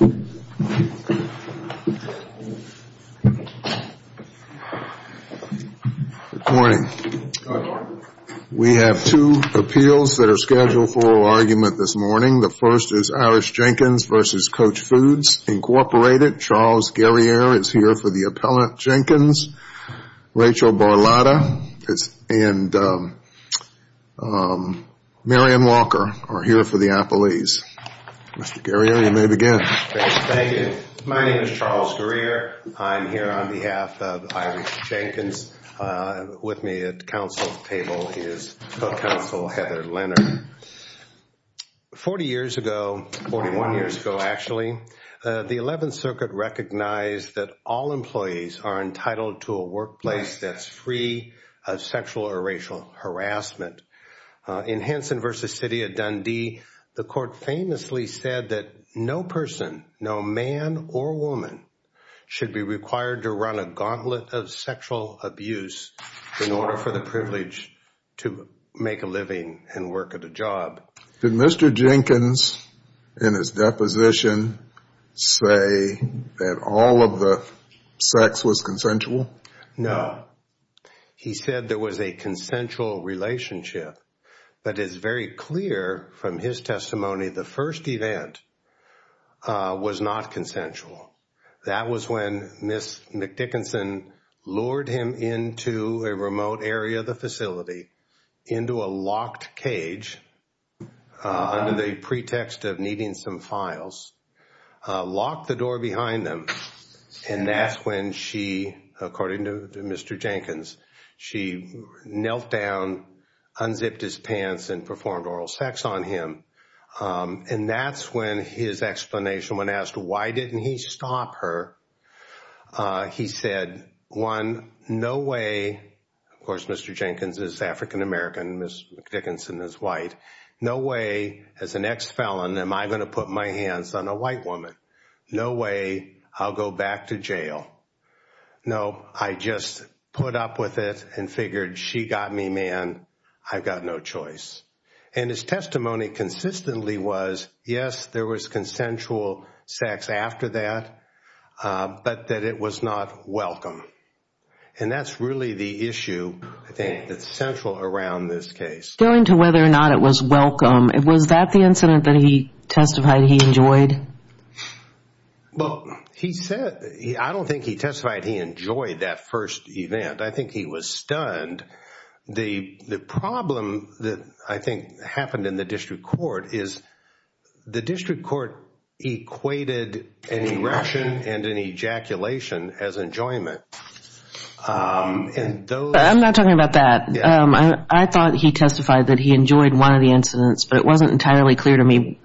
Good morning. We have two appeals that are scheduled for argument this morning. The first is Irish Jenkins v. Koch Foods, Inc. Charles Guerriere is here for the appellant. Jenkins, Rachel Borlada, and Marian Walker are here for the appellees. Mr. Guerriere, you may begin. Thank you. My name is Charles Guerriere. I'm here on behalf of Irish Jenkins. With me at the council table is Co-Counsel Heather Leonard. Forty years ago, forty-one years ago actually, the Eleventh Circuit recognized that all employees are entitled to a workplace that's free of sexual or racial harassment. In Hansen v. City of Dundee, the court famously said that no person, no man or woman, should be required to run a gauntlet of sexual abuse in order for the privilege to make a living and work at a job. Did Mr. Jenkins, in his deposition, say that all of the sex was consensual? No. He said there was a consensual relationship, but it's very clear from his testimony the first event was not consensual. That was when Ms. McDickinson lured him into a locked cage under the pretext of needing some files, locked the door behind them, and that's when she, according to Mr. Jenkins, she knelt down, unzipped his pants, and performed oral sex on him. And that's when his explanation, when asked why didn't he stop her, he said, one, no way. Of course, Mr. Jenkins is African-American and Ms. McDickinson is white. No way, as an ex-felon, am I going to put my hands on a white woman. No way, I'll go back to jail. No, I just put up with it and figured she got me, man, I've got no choice. And his testimony consistently was, yes, there was consensual sex after that, but that it was not welcome. And that's really the issue, I think, that's central around this case. Going to whether or not it was welcome, was that the incident that he testified he enjoyed? Well, he said, I don't think he testified he enjoyed that first event. I think he was stunned. The problem that I think happened in the district court is the district court equated an erection and an ejaculation as enjoyment. I'm not talking about that. I thought he testified that he enjoyed one of the incidents, but it wasn't entirely clear to me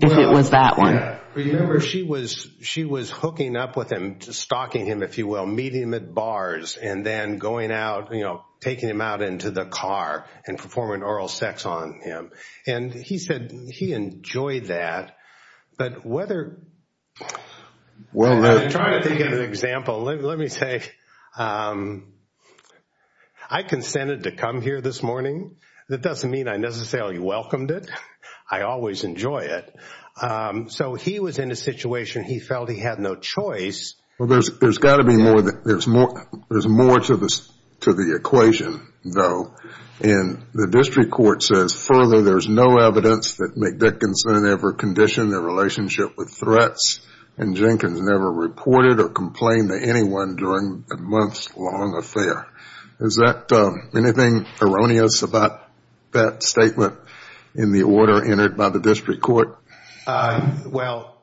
if it was that one. Remember, she was hooking up with him, stalking him, if you will, meeting him at bars, and then going out, taking him out into the car and performing oral sex on him. And he said he enjoyed that. But whether, trying to think of an example, let me say, I consented to come here this morning. That doesn't mean I necessarily welcomed it. I always enjoy it. So he was in a situation, he felt he had no choice. Well, there's got to be more. There's more to the equation, though. And the district court says, further, there's no evidence that McDickinson ever conditioned their relationship with threats, and Jenkins never reported or complained to anyone during a month's long affair. Is that anything erroneous about that statement in the order entered by the district court? Well,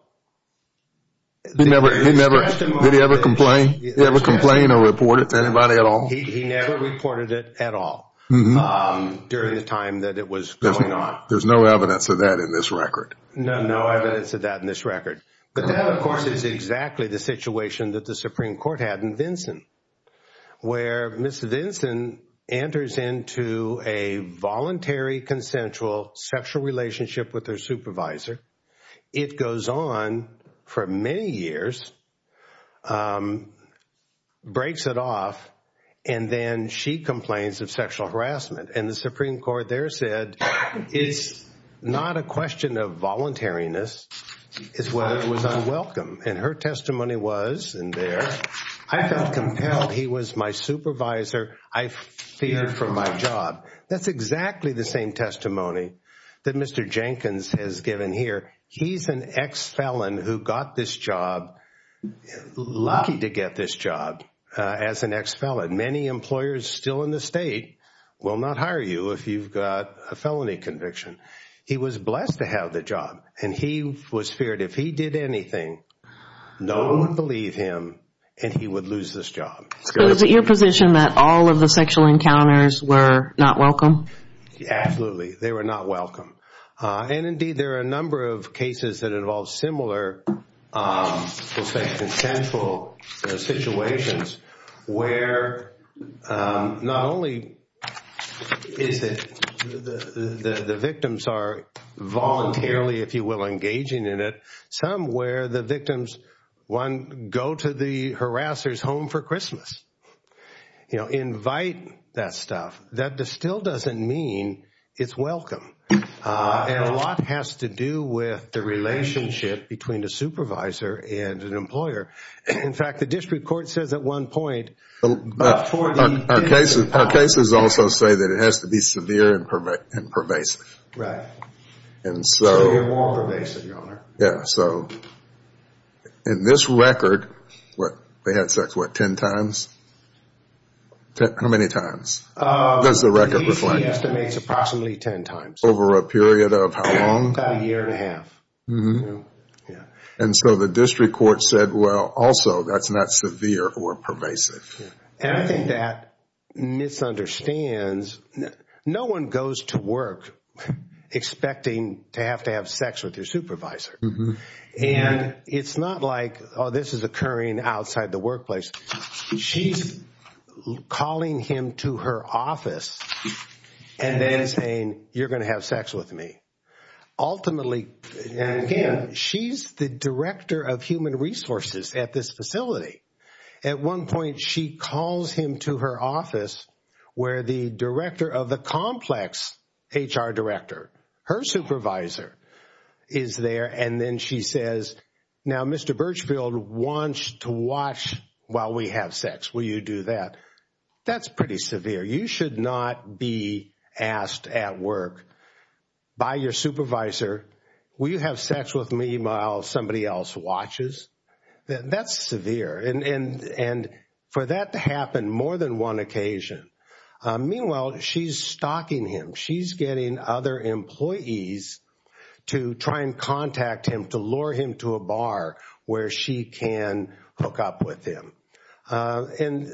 Did he ever complain? Did he ever complain or report it to anybody at all? He never reported it at all during the time that it was going on. There's no evidence of that in this record. No, no evidence of that in this record. But that, of course, is exactly the situation that the Supreme Court had in Vinson, where Ms. Vinson enters into a voluntary, consensual sexual relationship with her supervisor. It goes on for many years, breaks it off, and then she complains of sexual harassment. And the Supreme Court there said, it's not a question of he was my supervisor. I feared for my job. That's exactly the same testimony that Mr. Jenkins has given here. He's an ex-felon who got this job, lucky to get this job as an ex-felon. Many employers still in the state will not hire you if you've got a felony conviction. He was blessed to have the job, and he was feared if he did anything, no one would believe him and he would lose this job. So is it your position that all of the sexual encounters were not welcome? Absolutely. They were not welcome. And indeed, there are a number of cases that involve similar, let's say, consensual situations where not only is it the victims are voluntarily, if you will, engaging in it, some where the victims, one, go to the home for Christmas, invite that stuff. That still doesn't mean it's welcome. And a lot has to do with the relationship between the supervisor and an employer. In fact, the district court says at one point, but for the victim... Our cases also say that it has to be severe and pervasive. Right. So you're more pervasive, Your Honor. Yeah. So in this record, they had sex, what, ten times? How many times does the record reflect? The DC estimates approximately ten times. Over a period of how long? About a year and a half. And so the district court said, well, also, that's not severe or pervasive. And I think that misunderstands... No one goes to work expecting to have to have sex with their supervisor. And it's not like, oh, this is occurring outside the workplace. She's calling him to her office and then saying, you're going to have sex with me. Ultimately, she's the director of human resources at this facility. At one point, she calls him to her office where the director of the complex HR director, her supervisor, is there. And then she says, now Mr. Birchfield wants to watch while we have sex. Will you do that? That's pretty severe. You should not be asked at work by your supervisor, will you have sex with me while somebody else watches? That's severe. And for that to happen more than one occasion, meanwhile, she's stalking him. She's getting other employees to try and contact him to lure him to a bar where she can hook up with him. And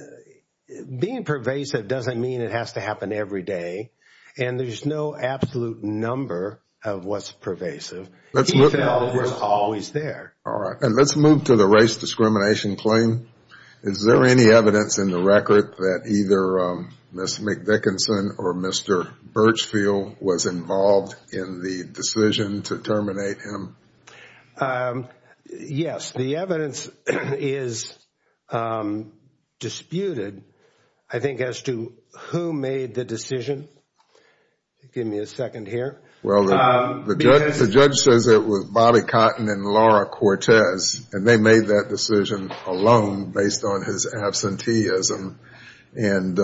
being pervasive doesn't mean it has to happen every day. And there's no absolute number of what's pervasive. He's always there. All right. And let's move to the race discrimination claim. Is there any evidence in the record that either Ms. McDickinson or Mr. Birchfield was involved in the decision to terminate him? Yes. The evidence is disputed, I think, as to who made the decision. Give me a second here. Well, the judge says it was Bobby Cotton and Laura Cortez. And they made that decision alone based on his absenteeism. And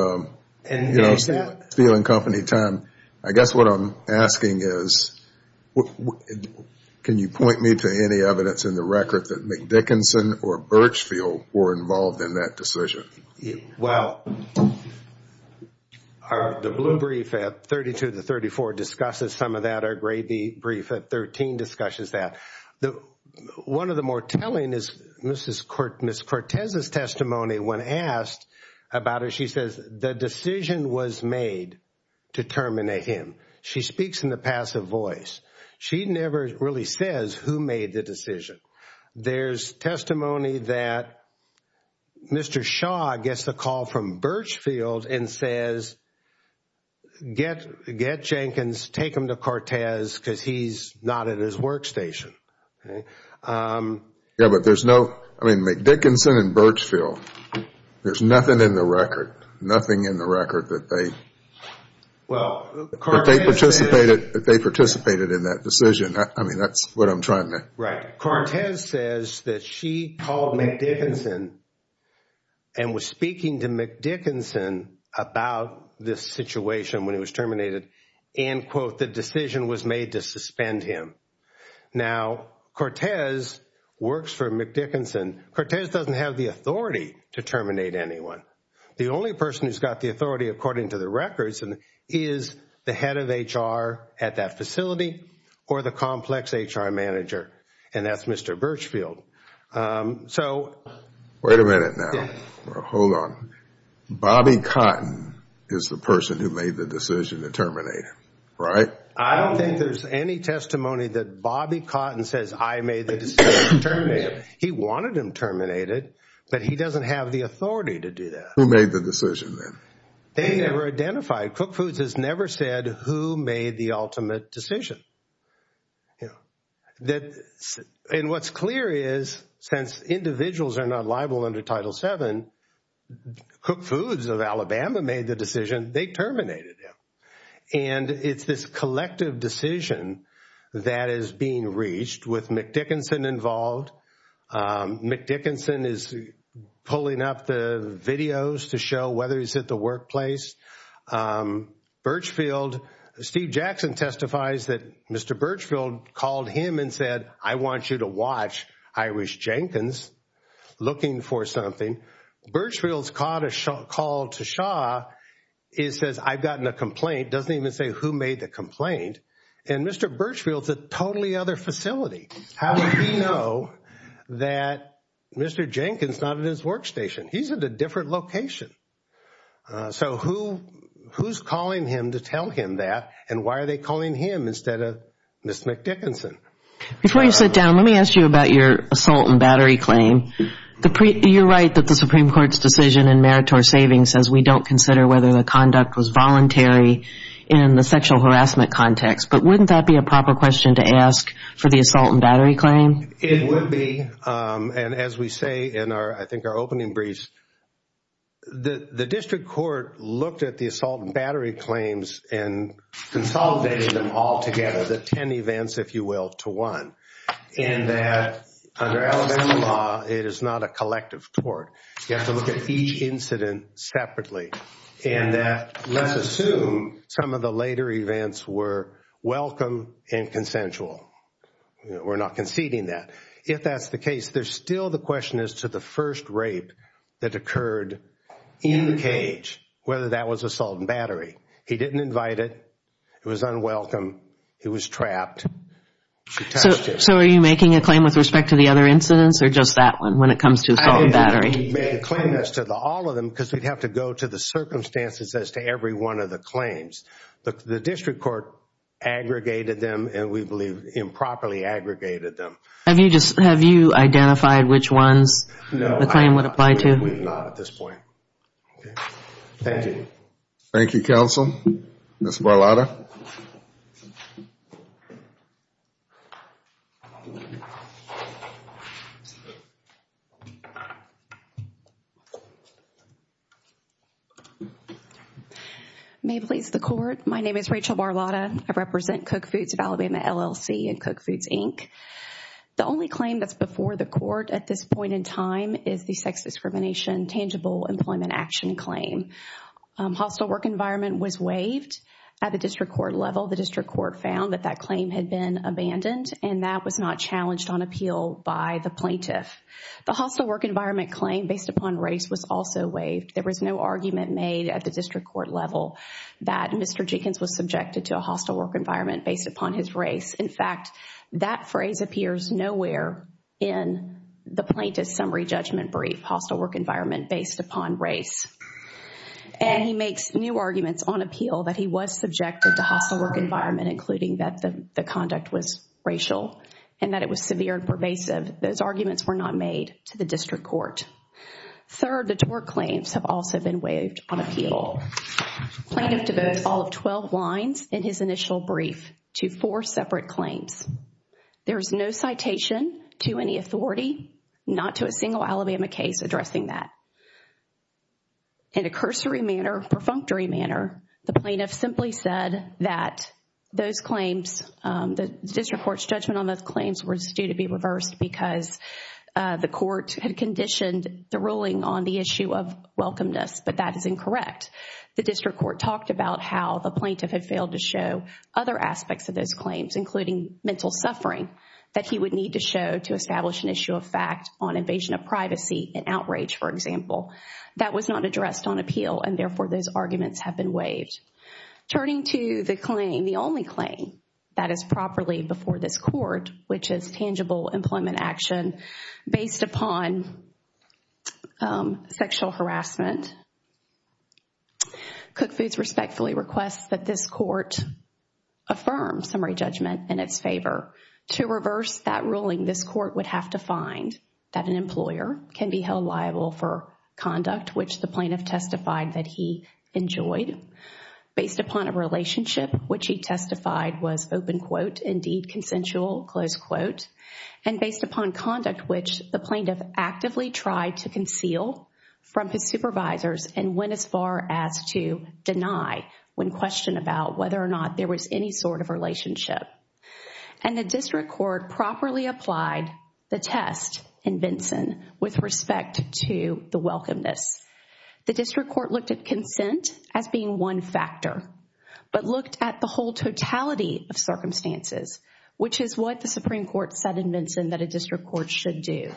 there's that. I guess what I'm asking is, can you point me to any evidence in the record that McDickinson or Birchfield were involved in that decision? Well, the blue brief at 32 to 34 discusses some of that. Our gray brief at 13 discusses that. One of the more telling is Ms. Cortez's testimony when asked about it. She says the decision was made to terminate him. She speaks in the passive voice. She never really says who made the decision. There's testimony that Mr. Shaw gets the call from Birchfield and says, get Jenkins, take him to Cortez because he's not at his workstation. Yeah, but there's no, I mean, McDickinson and Birchfield, there's nothing in the record, nothing in the record that they participated in that decision. I mean, that's what I'm trying to. Right. Cortez says that she called McDickinson and was speaking to McDickinson about this situation when he was terminated and, quote, the decision was made to suspend him. Now, Cortez works for McDickinson. Cortez doesn't have the authority to terminate anyone. The only person who's got the authority according to the records is the head of HR at that facility or the complex HR manager, and that's Mr. Birchfield. Wait a minute now. Hold on. Bobby Cotton is the person who made the decision to terminate him, right? I don't think there's any testimony that Bobby Cotton says I made the decision to terminate him. He wanted him terminated, but he doesn't have the authority to do that. Who made the decision then? They never identified. Cook Foods has never said who made the ultimate decision. And what's clear is, since individuals are not liable under Title VII, Cook Foods of Alabama made the decision, they terminated him. And it's this collective decision that is being reached with McDickinson involved. McDickinson is pulling up the videos to show whether he's at the workplace. Steve Jackson testifies that Mr. Birchfield called him and said, I want you to watch Irish Jenkins looking for something. Birchfield's called to Shaw and says, I've gotten a complaint. It doesn't even say who made the complaint. And Mr. Birchfield's at a totally other facility. How did he know that Mr. Jenkins is not at his workstation? He's at a different location. So who's calling him to tell him that, and why are they calling him instead of Ms. McDickinson? Before you sit down, let me ask you about your assault and battery claim. You're right that the Supreme Court's decision in meritor saving says we don't consider whether the conduct was voluntary in the sexual harassment context. But wouldn't that be a proper question to ask for the assault and battery claim? It would be. And as we say in our, I think, our opening briefs, the district court looked at the assault and battery claims and consolidated them all together, the ten events, if you will, to one. And that under Alabama law, it is not a collective court. You have to look at each incident separately. And that, let's assume, some of the later events were welcome and consensual. We're not conceding that. If that's the case, there's still the question as to the first rape that occurred in the cage, whether that was assault and battery. He didn't invite it. It was unwelcome. He was trapped. So are you making a claim with respect to the other incidents or just that one when it comes to assault and battery? I didn't make a claim as to all of them because we'd have to go to the circumstances as to every one of the claims. The district court aggregated them and we believe improperly aggregated them. Have you identified which ones the claim would apply to? No, I believe not at this point. Thank you. Thank you, counsel. Ms. Barlotta. May it please the court. My name is Rachel Barlotta. I represent Cook Foods of Alabama LLC and Cook Foods, Inc. The only claim that's before the court at this point in time is the sex discrimination tangible employment action claim. Hostile work environment was waived at the district court level. The district court found that that claim had been abandoned and that was not challenged on appeal by the plaintiff. The hostile work environment claim based upon race was also waived. There was no argument made at the district court level that Mr. Jenkins was subjected to a hostile work environment based upon his race. In fact, that phrase appears nowhere in the plaintiff's summary judgment brief, hostile work environment based upon race. And he makes new arguments on appeal that he was subjected to hostile work environment including that the conduct was racial and that it was severe and pervasive. Those arguments were not made to the district court. Third, the tort claims have also been waived on appeal. Plaintiff devotes all of 12 lines in his initial brief to four separate claims. There is no citation to any authority, not to a single Alabama case addressing that. In a cursory manner, perfunctory manner, the plaintiff simply said that those claims, the district court's judgment on those claims was due to be reversed because the court had conditioned the ruling on the issue of welcomeness, but that is incorrect. The district court talked about how the plaintiff had failed to show other aspects of those claims, including mental suffering, that he would need to show to establish an issue of fact on invasion of privacy and outrage, for example. That was not addressed on appeal and therefore those arguments have been waived. Turning to the claim, the only claim that is properly before this court, which is tangible employment action based upon sexual harassment. Cook Foods respectfully requests that this court affirm summary judgment in its favor. To reverse that ruling, this court would have to find that an employer can be held liable for conduct, which the plaintiff testified that he enjoyed. Based upon a relationship, which he testified was open quote, indeed consensual, close quote, and based upon conduct, which the plaintiff actively tried to conceal from his supervisors and went as far as to deny when questioned about whether or not there was any sort of relationship. And the district court properly applied the test in Benson with respect to the welcomeness. The district court looked at consent as being one factor, but looked at the whole totality of circumstances, which is what the Supreme Court said in Benson that a district court should do.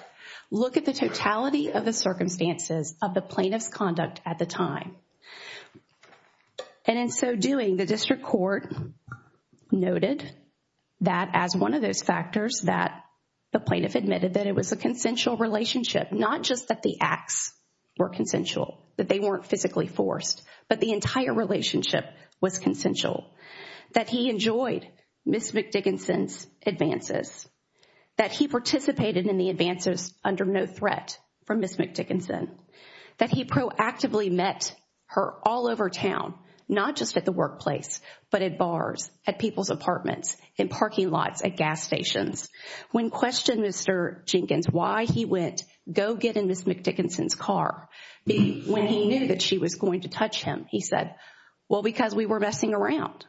Look at the totality of the circumstances of the plaintiff's conduct at the time. And in so doing, the district court noted that as one of those factors that the plaintiff admitted that it was a consensual relationship, not just that the acts were consensual, that they weren't physically forced, but the entire relationship was consensual, that he enjoyed Ms. McDickinson's advances, that he participated in the advances under no threat from Ms. McDickinson, that he proactively met her all over town, not just at the workplace, but at bars, at people's apartments, in parking lots, at gas stations. When questioned, Mr. Jenkins, why he went, go get in Ms. McDickinson's car, when he knew that she was going to touch him, he said, well, because we were messing around.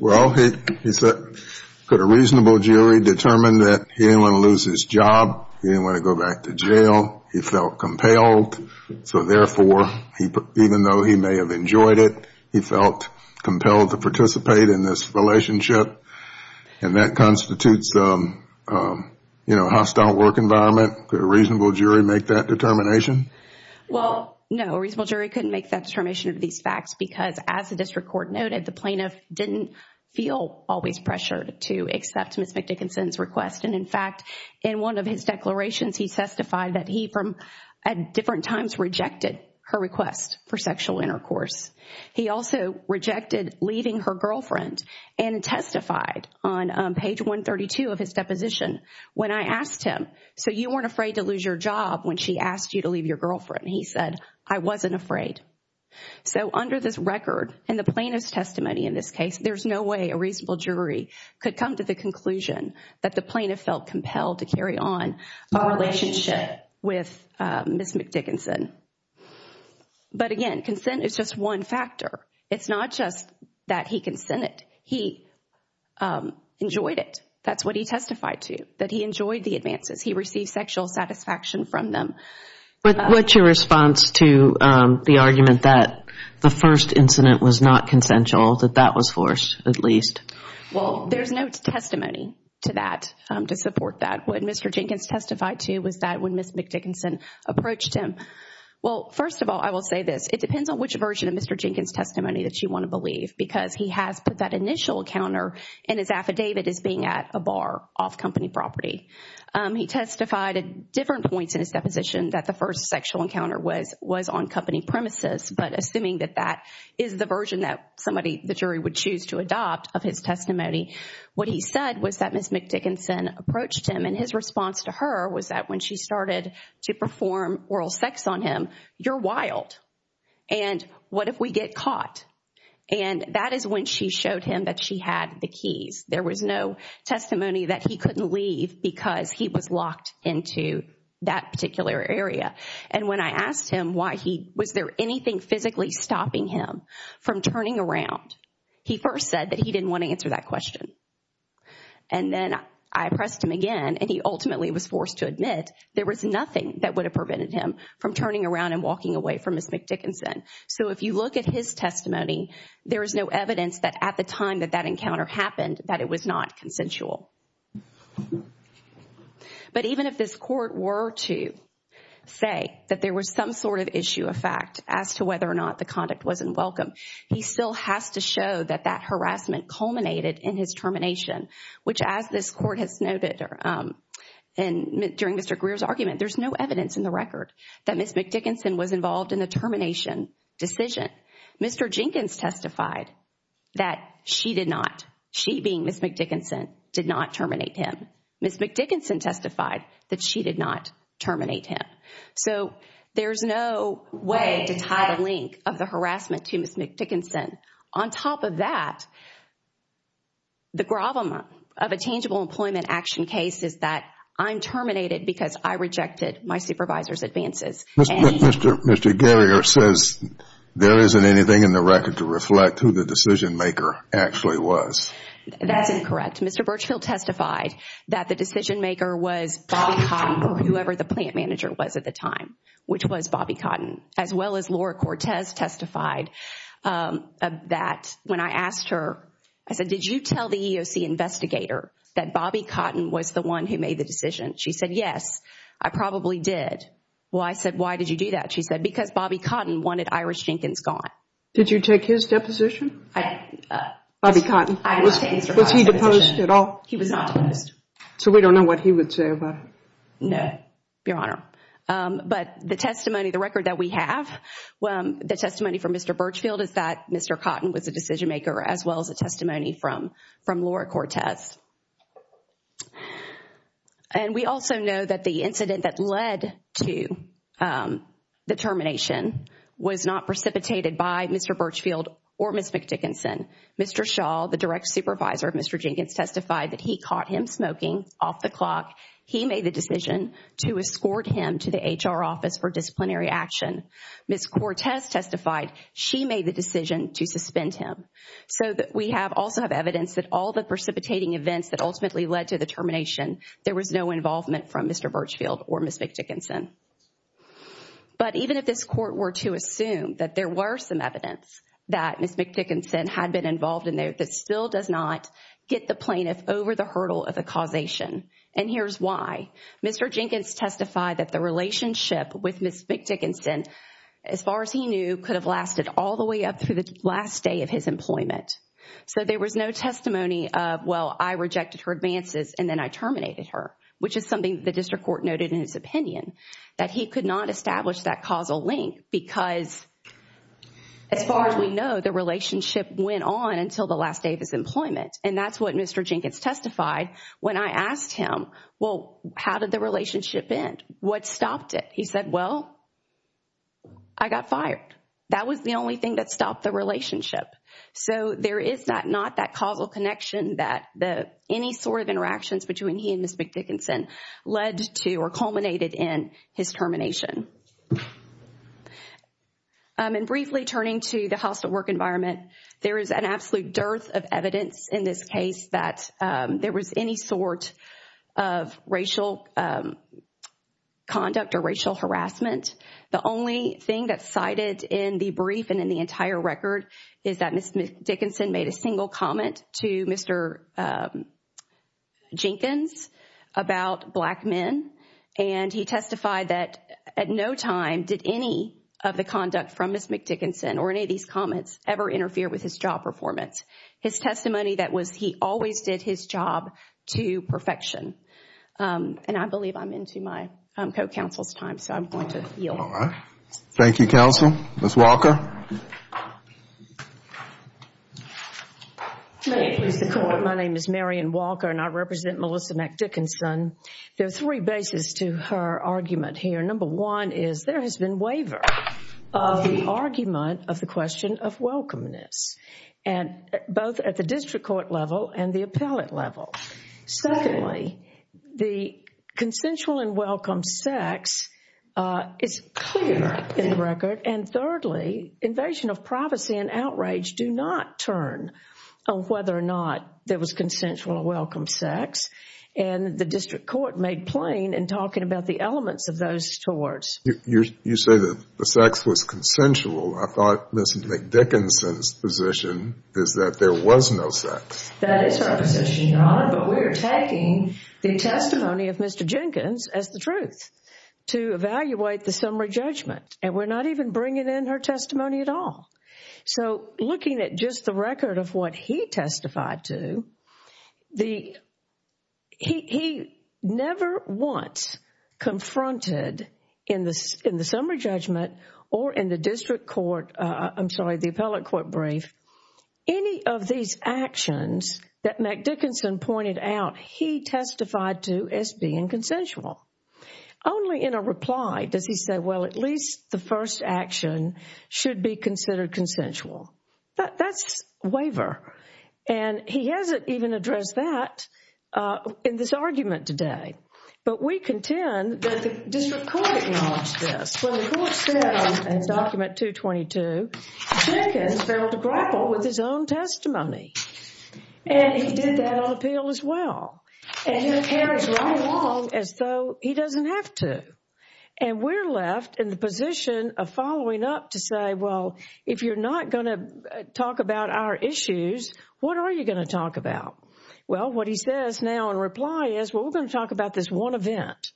Well, he put a reasonable jury, determined that he didn't want to lose his job. He didn't want to go back to jail. He felt compelled, so therefore, even though he may have enjoyed it, he felt compelled to participate in this relationship. That constitutes a hostile work environment. Could a reasonable jury make that determination? Well, no. A reasonable jury couldn't make that determination of these facts because, as the district court noted, the plaintiff didn't feel always pressured to accept Ms. McDickinson's request. In fact, in one of his declarations, he testified that he, at different times, rejected her request for sexual intercourse. He also rejected leaving her girlfriend and testified on page 132 of his deposition, when I asked him, so you weren't afraid to lose your job when she asked you to leave your girlfriend? He said, I wasn't afraid. So, under this record and the plaintiff's testimony in this case, there's no way a reasonable jury could come to the conclusion that the plaintiff felt compelled to carry on a relationship with Ms. McDickinson. But again, consent is just one factor. It's not just that he consented. He enjoyed it. That's what he testified to, that he enjoyed the advances. He received sexual satisfaction from them. What's your response to the argument that the first incident was not consensual, that that was forced, at least? Well, there's no testimony to that, to support that. What Mr. Jenkins testified to was that when Ms. McDickinson approached him. Well, first of all, I will say this. It depends on which version of Mr. Jenkins' testimony that you want to believe, because he has put that initial encounter in his affidavit as being at a bar, off company property. He testified at different points in his deposition that the first sexual encounter was on company premises, but assuming that that is the version that somebody, the jury, would choose to adopt of his testimony, what he said was that Ms. McDickinson approached him, and his response to her was that when she started to perform oral sex on him, you're wild, and what if we get caught? And that is when she showed him that she had the keys. There was no testimony that he couldn't leave because he was locked into that particular area. And when I asked him why he, was there anything physically stopping him from turning around, he first said that he didn't want to answer that question. And then I pressed him again, and he ultimately was forced to admit there was nothing that would have prevented him from turning around and walking away from Ms. McDickinson. So if you look at his testimony, there is no evidence that at the time that that encounter happened, that it was not consensual. But even if this court were to say that there was some sort of issue of fact as to whether or not the conduct wasn't welcome, he still has to show that that harassment culminated in his termination, which as this court has noted during Mr. Greer's argument, there's no evidence in the record that Ms. McDickinson was involved in the termination decision. Mr. Jenkins testified that she did not, she being Ms. McDickinson, did not terminate him. Ms. McDickinson testified that she did not terminate him. So there's no way to tie the link of the harassment to Ms. McDickinson. On top of that, the problem of a tangible employment action case is that I'm terminated because I rejected my supervisor's advances. Mr. Greer says there isn't anything in the record to reflect who the decision maker actually was. That's incorrect. Mr. Birchfield testified that the decision maker was Bobby Cotton or whoever the plant manager was at the time, which was Bobby Cotton, as well as Laura Cortez testified that when I asked her, I said, did you tell the EEOC investigator that Bobby Cotton was the one who made the decision? She said, yes, I probably did. Well, I said, why did you do that? She said, because Bobby Cotton wanted Irish Jenkins gone. Did you take his deposition? Bobby Cotton. Was he deposed at all? He was not deposed. So we don't know what he would say about it? No, Your Honor. But the testimony, the record that we have, the testimony from Mr. Birchfield is that Mr. Cotton was the decision maker as well as the testimony from Laura Cortez. And we also know that the incident that led to the termination was not precipitated by Mr. Birchfield or Ms. McDickinson. Mr. Shaw, the direct supervisor of Mr. Jenkins, testified that he caught him smoking off the clock. He made the decision to escort him to the HR office for disciplinary action. Ms. Cortez testified she made the decision to suspend him. So we also have evidence that all the precipitating events that ultimately led to the termination, there was no involvement from Mr. Birchfield or Ms. McDickinson. But even if this court were to assume that there were some evidence that Ms. McDickinson had been involved in there, that still does not get the plaintiff over the hurdle of the causation. And here's why. Mr. Jenkins testified that the relationship with Ms. McDickinson, as far as he knew, could have lasted all the way up through the last day of his employment. So there was no testimony of, well, I rejected her advances and then I terminated her, which is something the district court noted in his opinion, that he could not establish that causal link because, as far as we know, the relationship went on until the last day of his employment. And that's what Mr. Jenkins testified when I asked him, well, how did the relationship end? What stopped it? He said, well, I got fired. That was the only thing that stopped the relationship. So there is not that causal connection that any sort of interactions between he and Ms. McDickinson led to or culminated in his termination. And briefly turning to the hostile work environment, there is an absolute dearth of evidence in this case that there was any sort of racial conduct or racial harassment. The only thing that's cited in the brief and in the entire record is that Ms. McDickinson made a single comment to Mr. Jenkins about black men. And he testified that at no time did any of the conduct from Ms. McDickinson or any of these comments ever interfere with his job performance. His testimony that was he always did his job to perfection. And I believe I'm into my co-counsel's time, so I'm going to yield. Thank you, Counsel. Ms. Walker. My name is Marion Walker and I represent Melissa McDickinson. There are three bases to her argument here. Number one is there has been waiver of the argument of the question of welcomeness, both at the district court level and the appellate level. Secondly, the consensual and welcome sex is clear in the record. And thirdly, invasion of privacy and outrage do not turn on whether or not there was consensual or welcome sex. And the district court made plain in talking about the elements of those towards. You say that the sex was consensual. I thought Ms. McDickinson's position is that there was no sex. That is her position, Your Honor, but we're taking the testimony of Mr. Jenkins as the truth to evaluate the summary judgment and we're not even bringing in her testimony at all. So looking at just the record of what he testified to, he never once confronted in the summary judgment or in the district court, I'm sorry, the appellate court brief any of these actions that McDickinson pointed out he testified to as being consensual. Only in a reply does he say, well, at least the first action should be considered consensual. That's waiver. And he hasn't even addressed that in this argument today. But we contend that the district court acknowledged this. When the court said in document 222, Jenkins failed to grapple with his own testimony. And he did that on appeal as well. And his hair is running long as though he doesn't have to. And we're left in the position of following up to say, well, if you're not going to talk about our issues, what are you going to talk about? Well, what he says now in reply is, well, we're going to talk about this one event.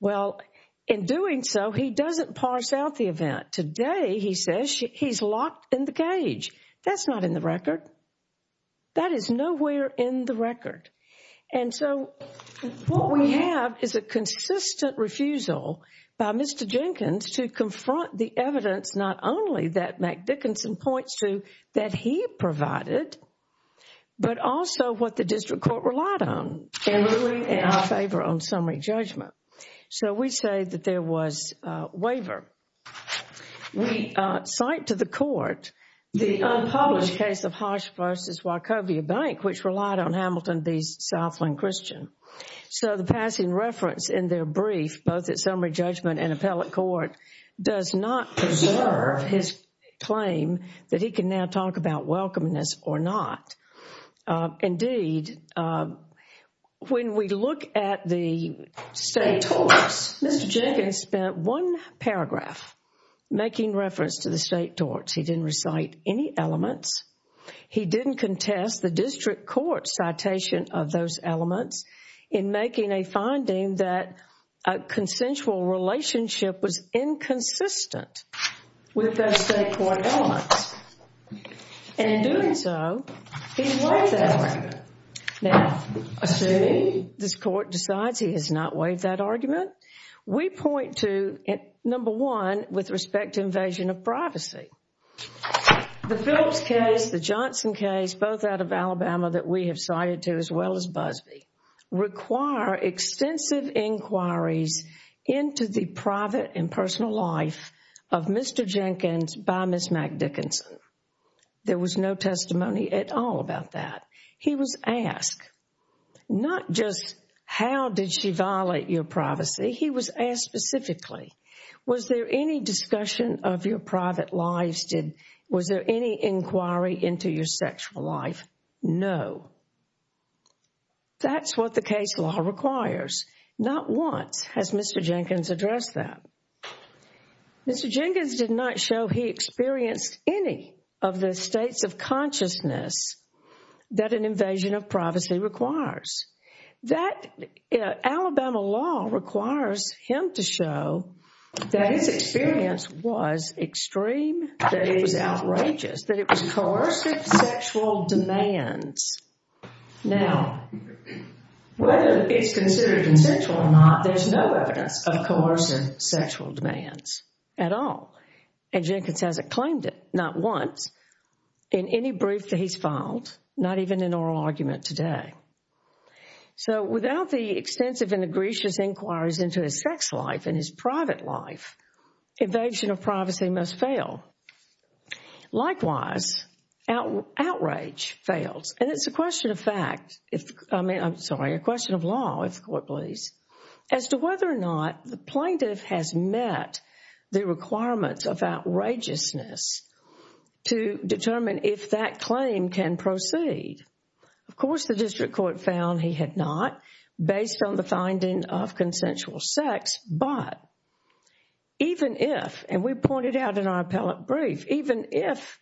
Well, in doing so, he doesn't parse out the event. Today he says he's locked in the cage. That's not in the record. That is nowhere in the record. And so what we have is a consistent refusal by Mr. Jenkins to confront the evidence not only that McDickinson points to that he provided, but also what the district court relied on in our favor on summary judgment. So we say that there was a waiver. We cite to the court the unpublished case of Hodge v. Wachovia Bank, which relied on Hamilton v. Southland Christian. So the passing reference in their brief, both at summary judgment and appellate court, does not preserve his claim that he can now talk about welcomeness or not. Indeed, when we look at the state torts, Mr. Jenkins spent one paragraph making reference to the state torts. He didn't recite any elements. He didn't contest the district court citation of those elements in making a finding that a consensual relationship was inconsistent with those state court elements. In doing so, he waived that argument. Now, assuming this court decides he has not waived that argument, we point to, number one, with respect to invasion of privacy. The Phillips case, the Johnson case, both out of Alabama that we have cited to as well as Busbee, require extensive inquiries into the private and personal life of Mr. Jenkins by Ms. McDickinson. There was no testimony at all about that. He was asked not just how did she violate your privacy. He was asked specifically, was there any discussion of your private lives? Was there any inquiry into your sexual life? No. That's what the case law requires. Not once has Mr. Jenkins addressed that. Mr. Jenkins did not show he experienced any of the states of consciousness that an invasion of privacy requires. Alabama law requires him to show that his experience was extreme, that it was outrageous, that it was coercive sexual demands. Now, whether it's considered consensual or not, there's no evidence of coercive sexual demands at all. And Jenkins hasn't claimed it, not once, in any brief that he's filed, not even in oral argument today. So, without the extensive and egregious inquiries into his sex life and his private life, invasion of privacy must fail. Likewise, outrage fails. And it's a question of fact, I mean, I'm sorry, a question of law, if the court please, as to whether or not the plaintiff has met the requirements of outrageousness to determine if that claim can proceed. Of course, the district court found he had not, based on the finding of consensual sex. But even if, and we pointed out in our appellate brief, even if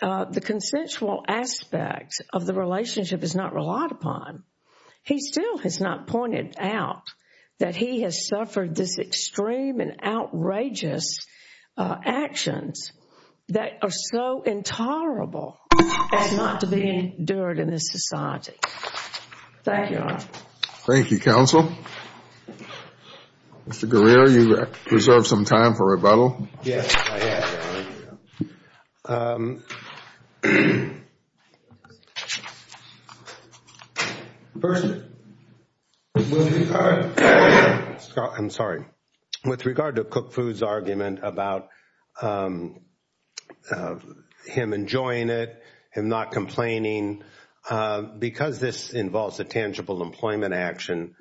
the consensual aspects of the relationship is not relied upon, he still has not pointed out that he has suffered this extreme and outrageous actions that are so intolerable as not to be endured in this society. Thank you, counsel. Mr. Guerrero, you reserve some time for rebuttal. Yes, I have, Your Honor. First, with regard to Cook Foods' argument about him enjoying it, him not complaining, because this involves a tangible employment action,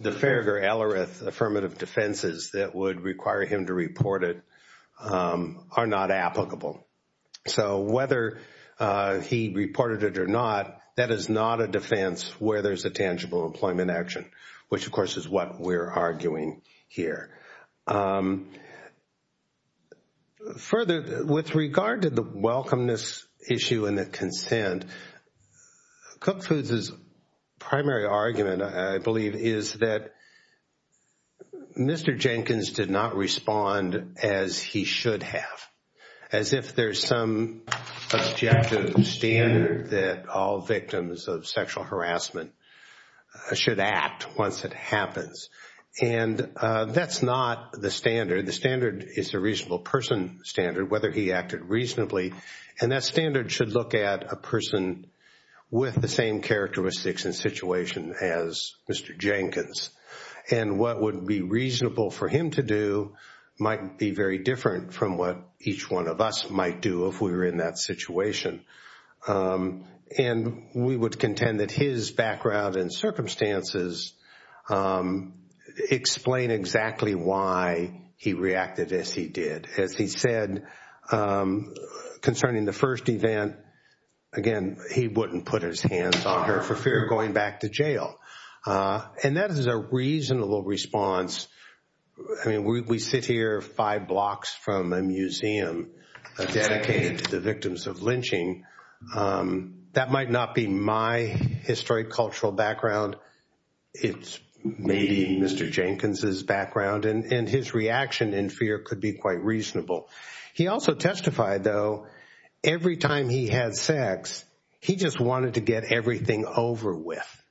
the Farragher-Ellerith affirmative defenses that would require him to report it are not applicable. So whether he reported it or not, that is not a defense where there's a tangible employment action, which, of course, is what we're arguing here. Further, with regard to the welcomeness issue and the consent, Cook Foods' primary argument, I believe, is that Mr. Jenkins did not respond as he should have, as if there's some objective standard that all victims of sexual harassment should act once it happens. And that's not the standard. The standard is the reasonable person standard, whether he acted reasonably. And that standard should look at a person with the same characteristics and situation as Mr. Jenkins. And what would be reasonable for him to do might be very different from what each one of us might do if we were in that situation. And we would contend that his background and circumstances explain exactly why he reacted as he did. As he said concerning the first event, again, he wouldn't put his hands on her for fear of going back to jail. And that is a reasonable response. I mean, we sit here five blocks from a museum dedicated to the victims of lynching. That might not be my historic cultural background. It's maybe Mr. Jenkins' background, and his reaction in fear could be quite reasonable. He also testified, though, every time he had sex, he just wanted to get everything over with.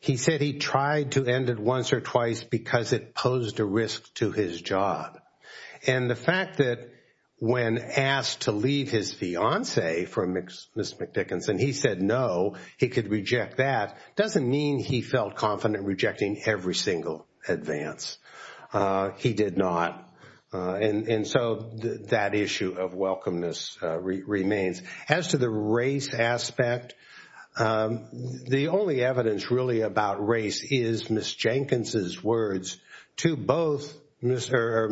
He said he tried to end it once or twice because it posed a risk to his job. And the fact that when asked to leave his fiancée for Ms. McDickinson, he said no, he could reject that, doesn't mean he felt confident rejecting every single advance. He did not. And so that issue of welcomeness remains. As to the race aspect, the only evidence really about race is Ms. McDickinson's words to both Mr.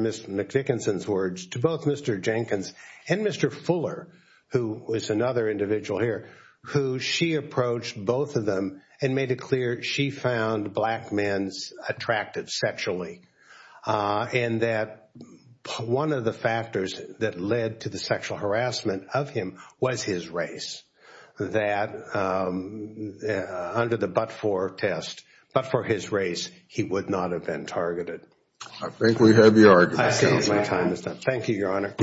Jenkins and Mr. Fuller, who is another individual here, who she approached both of them and made it clear she found black men attractive sexually. And that one of the factors that led to the sexual harassment of him was his race, that under the but-for test, but for his race, he would not have been targeted. I think we have your argument, Your Honor. Thank you, Your Honor.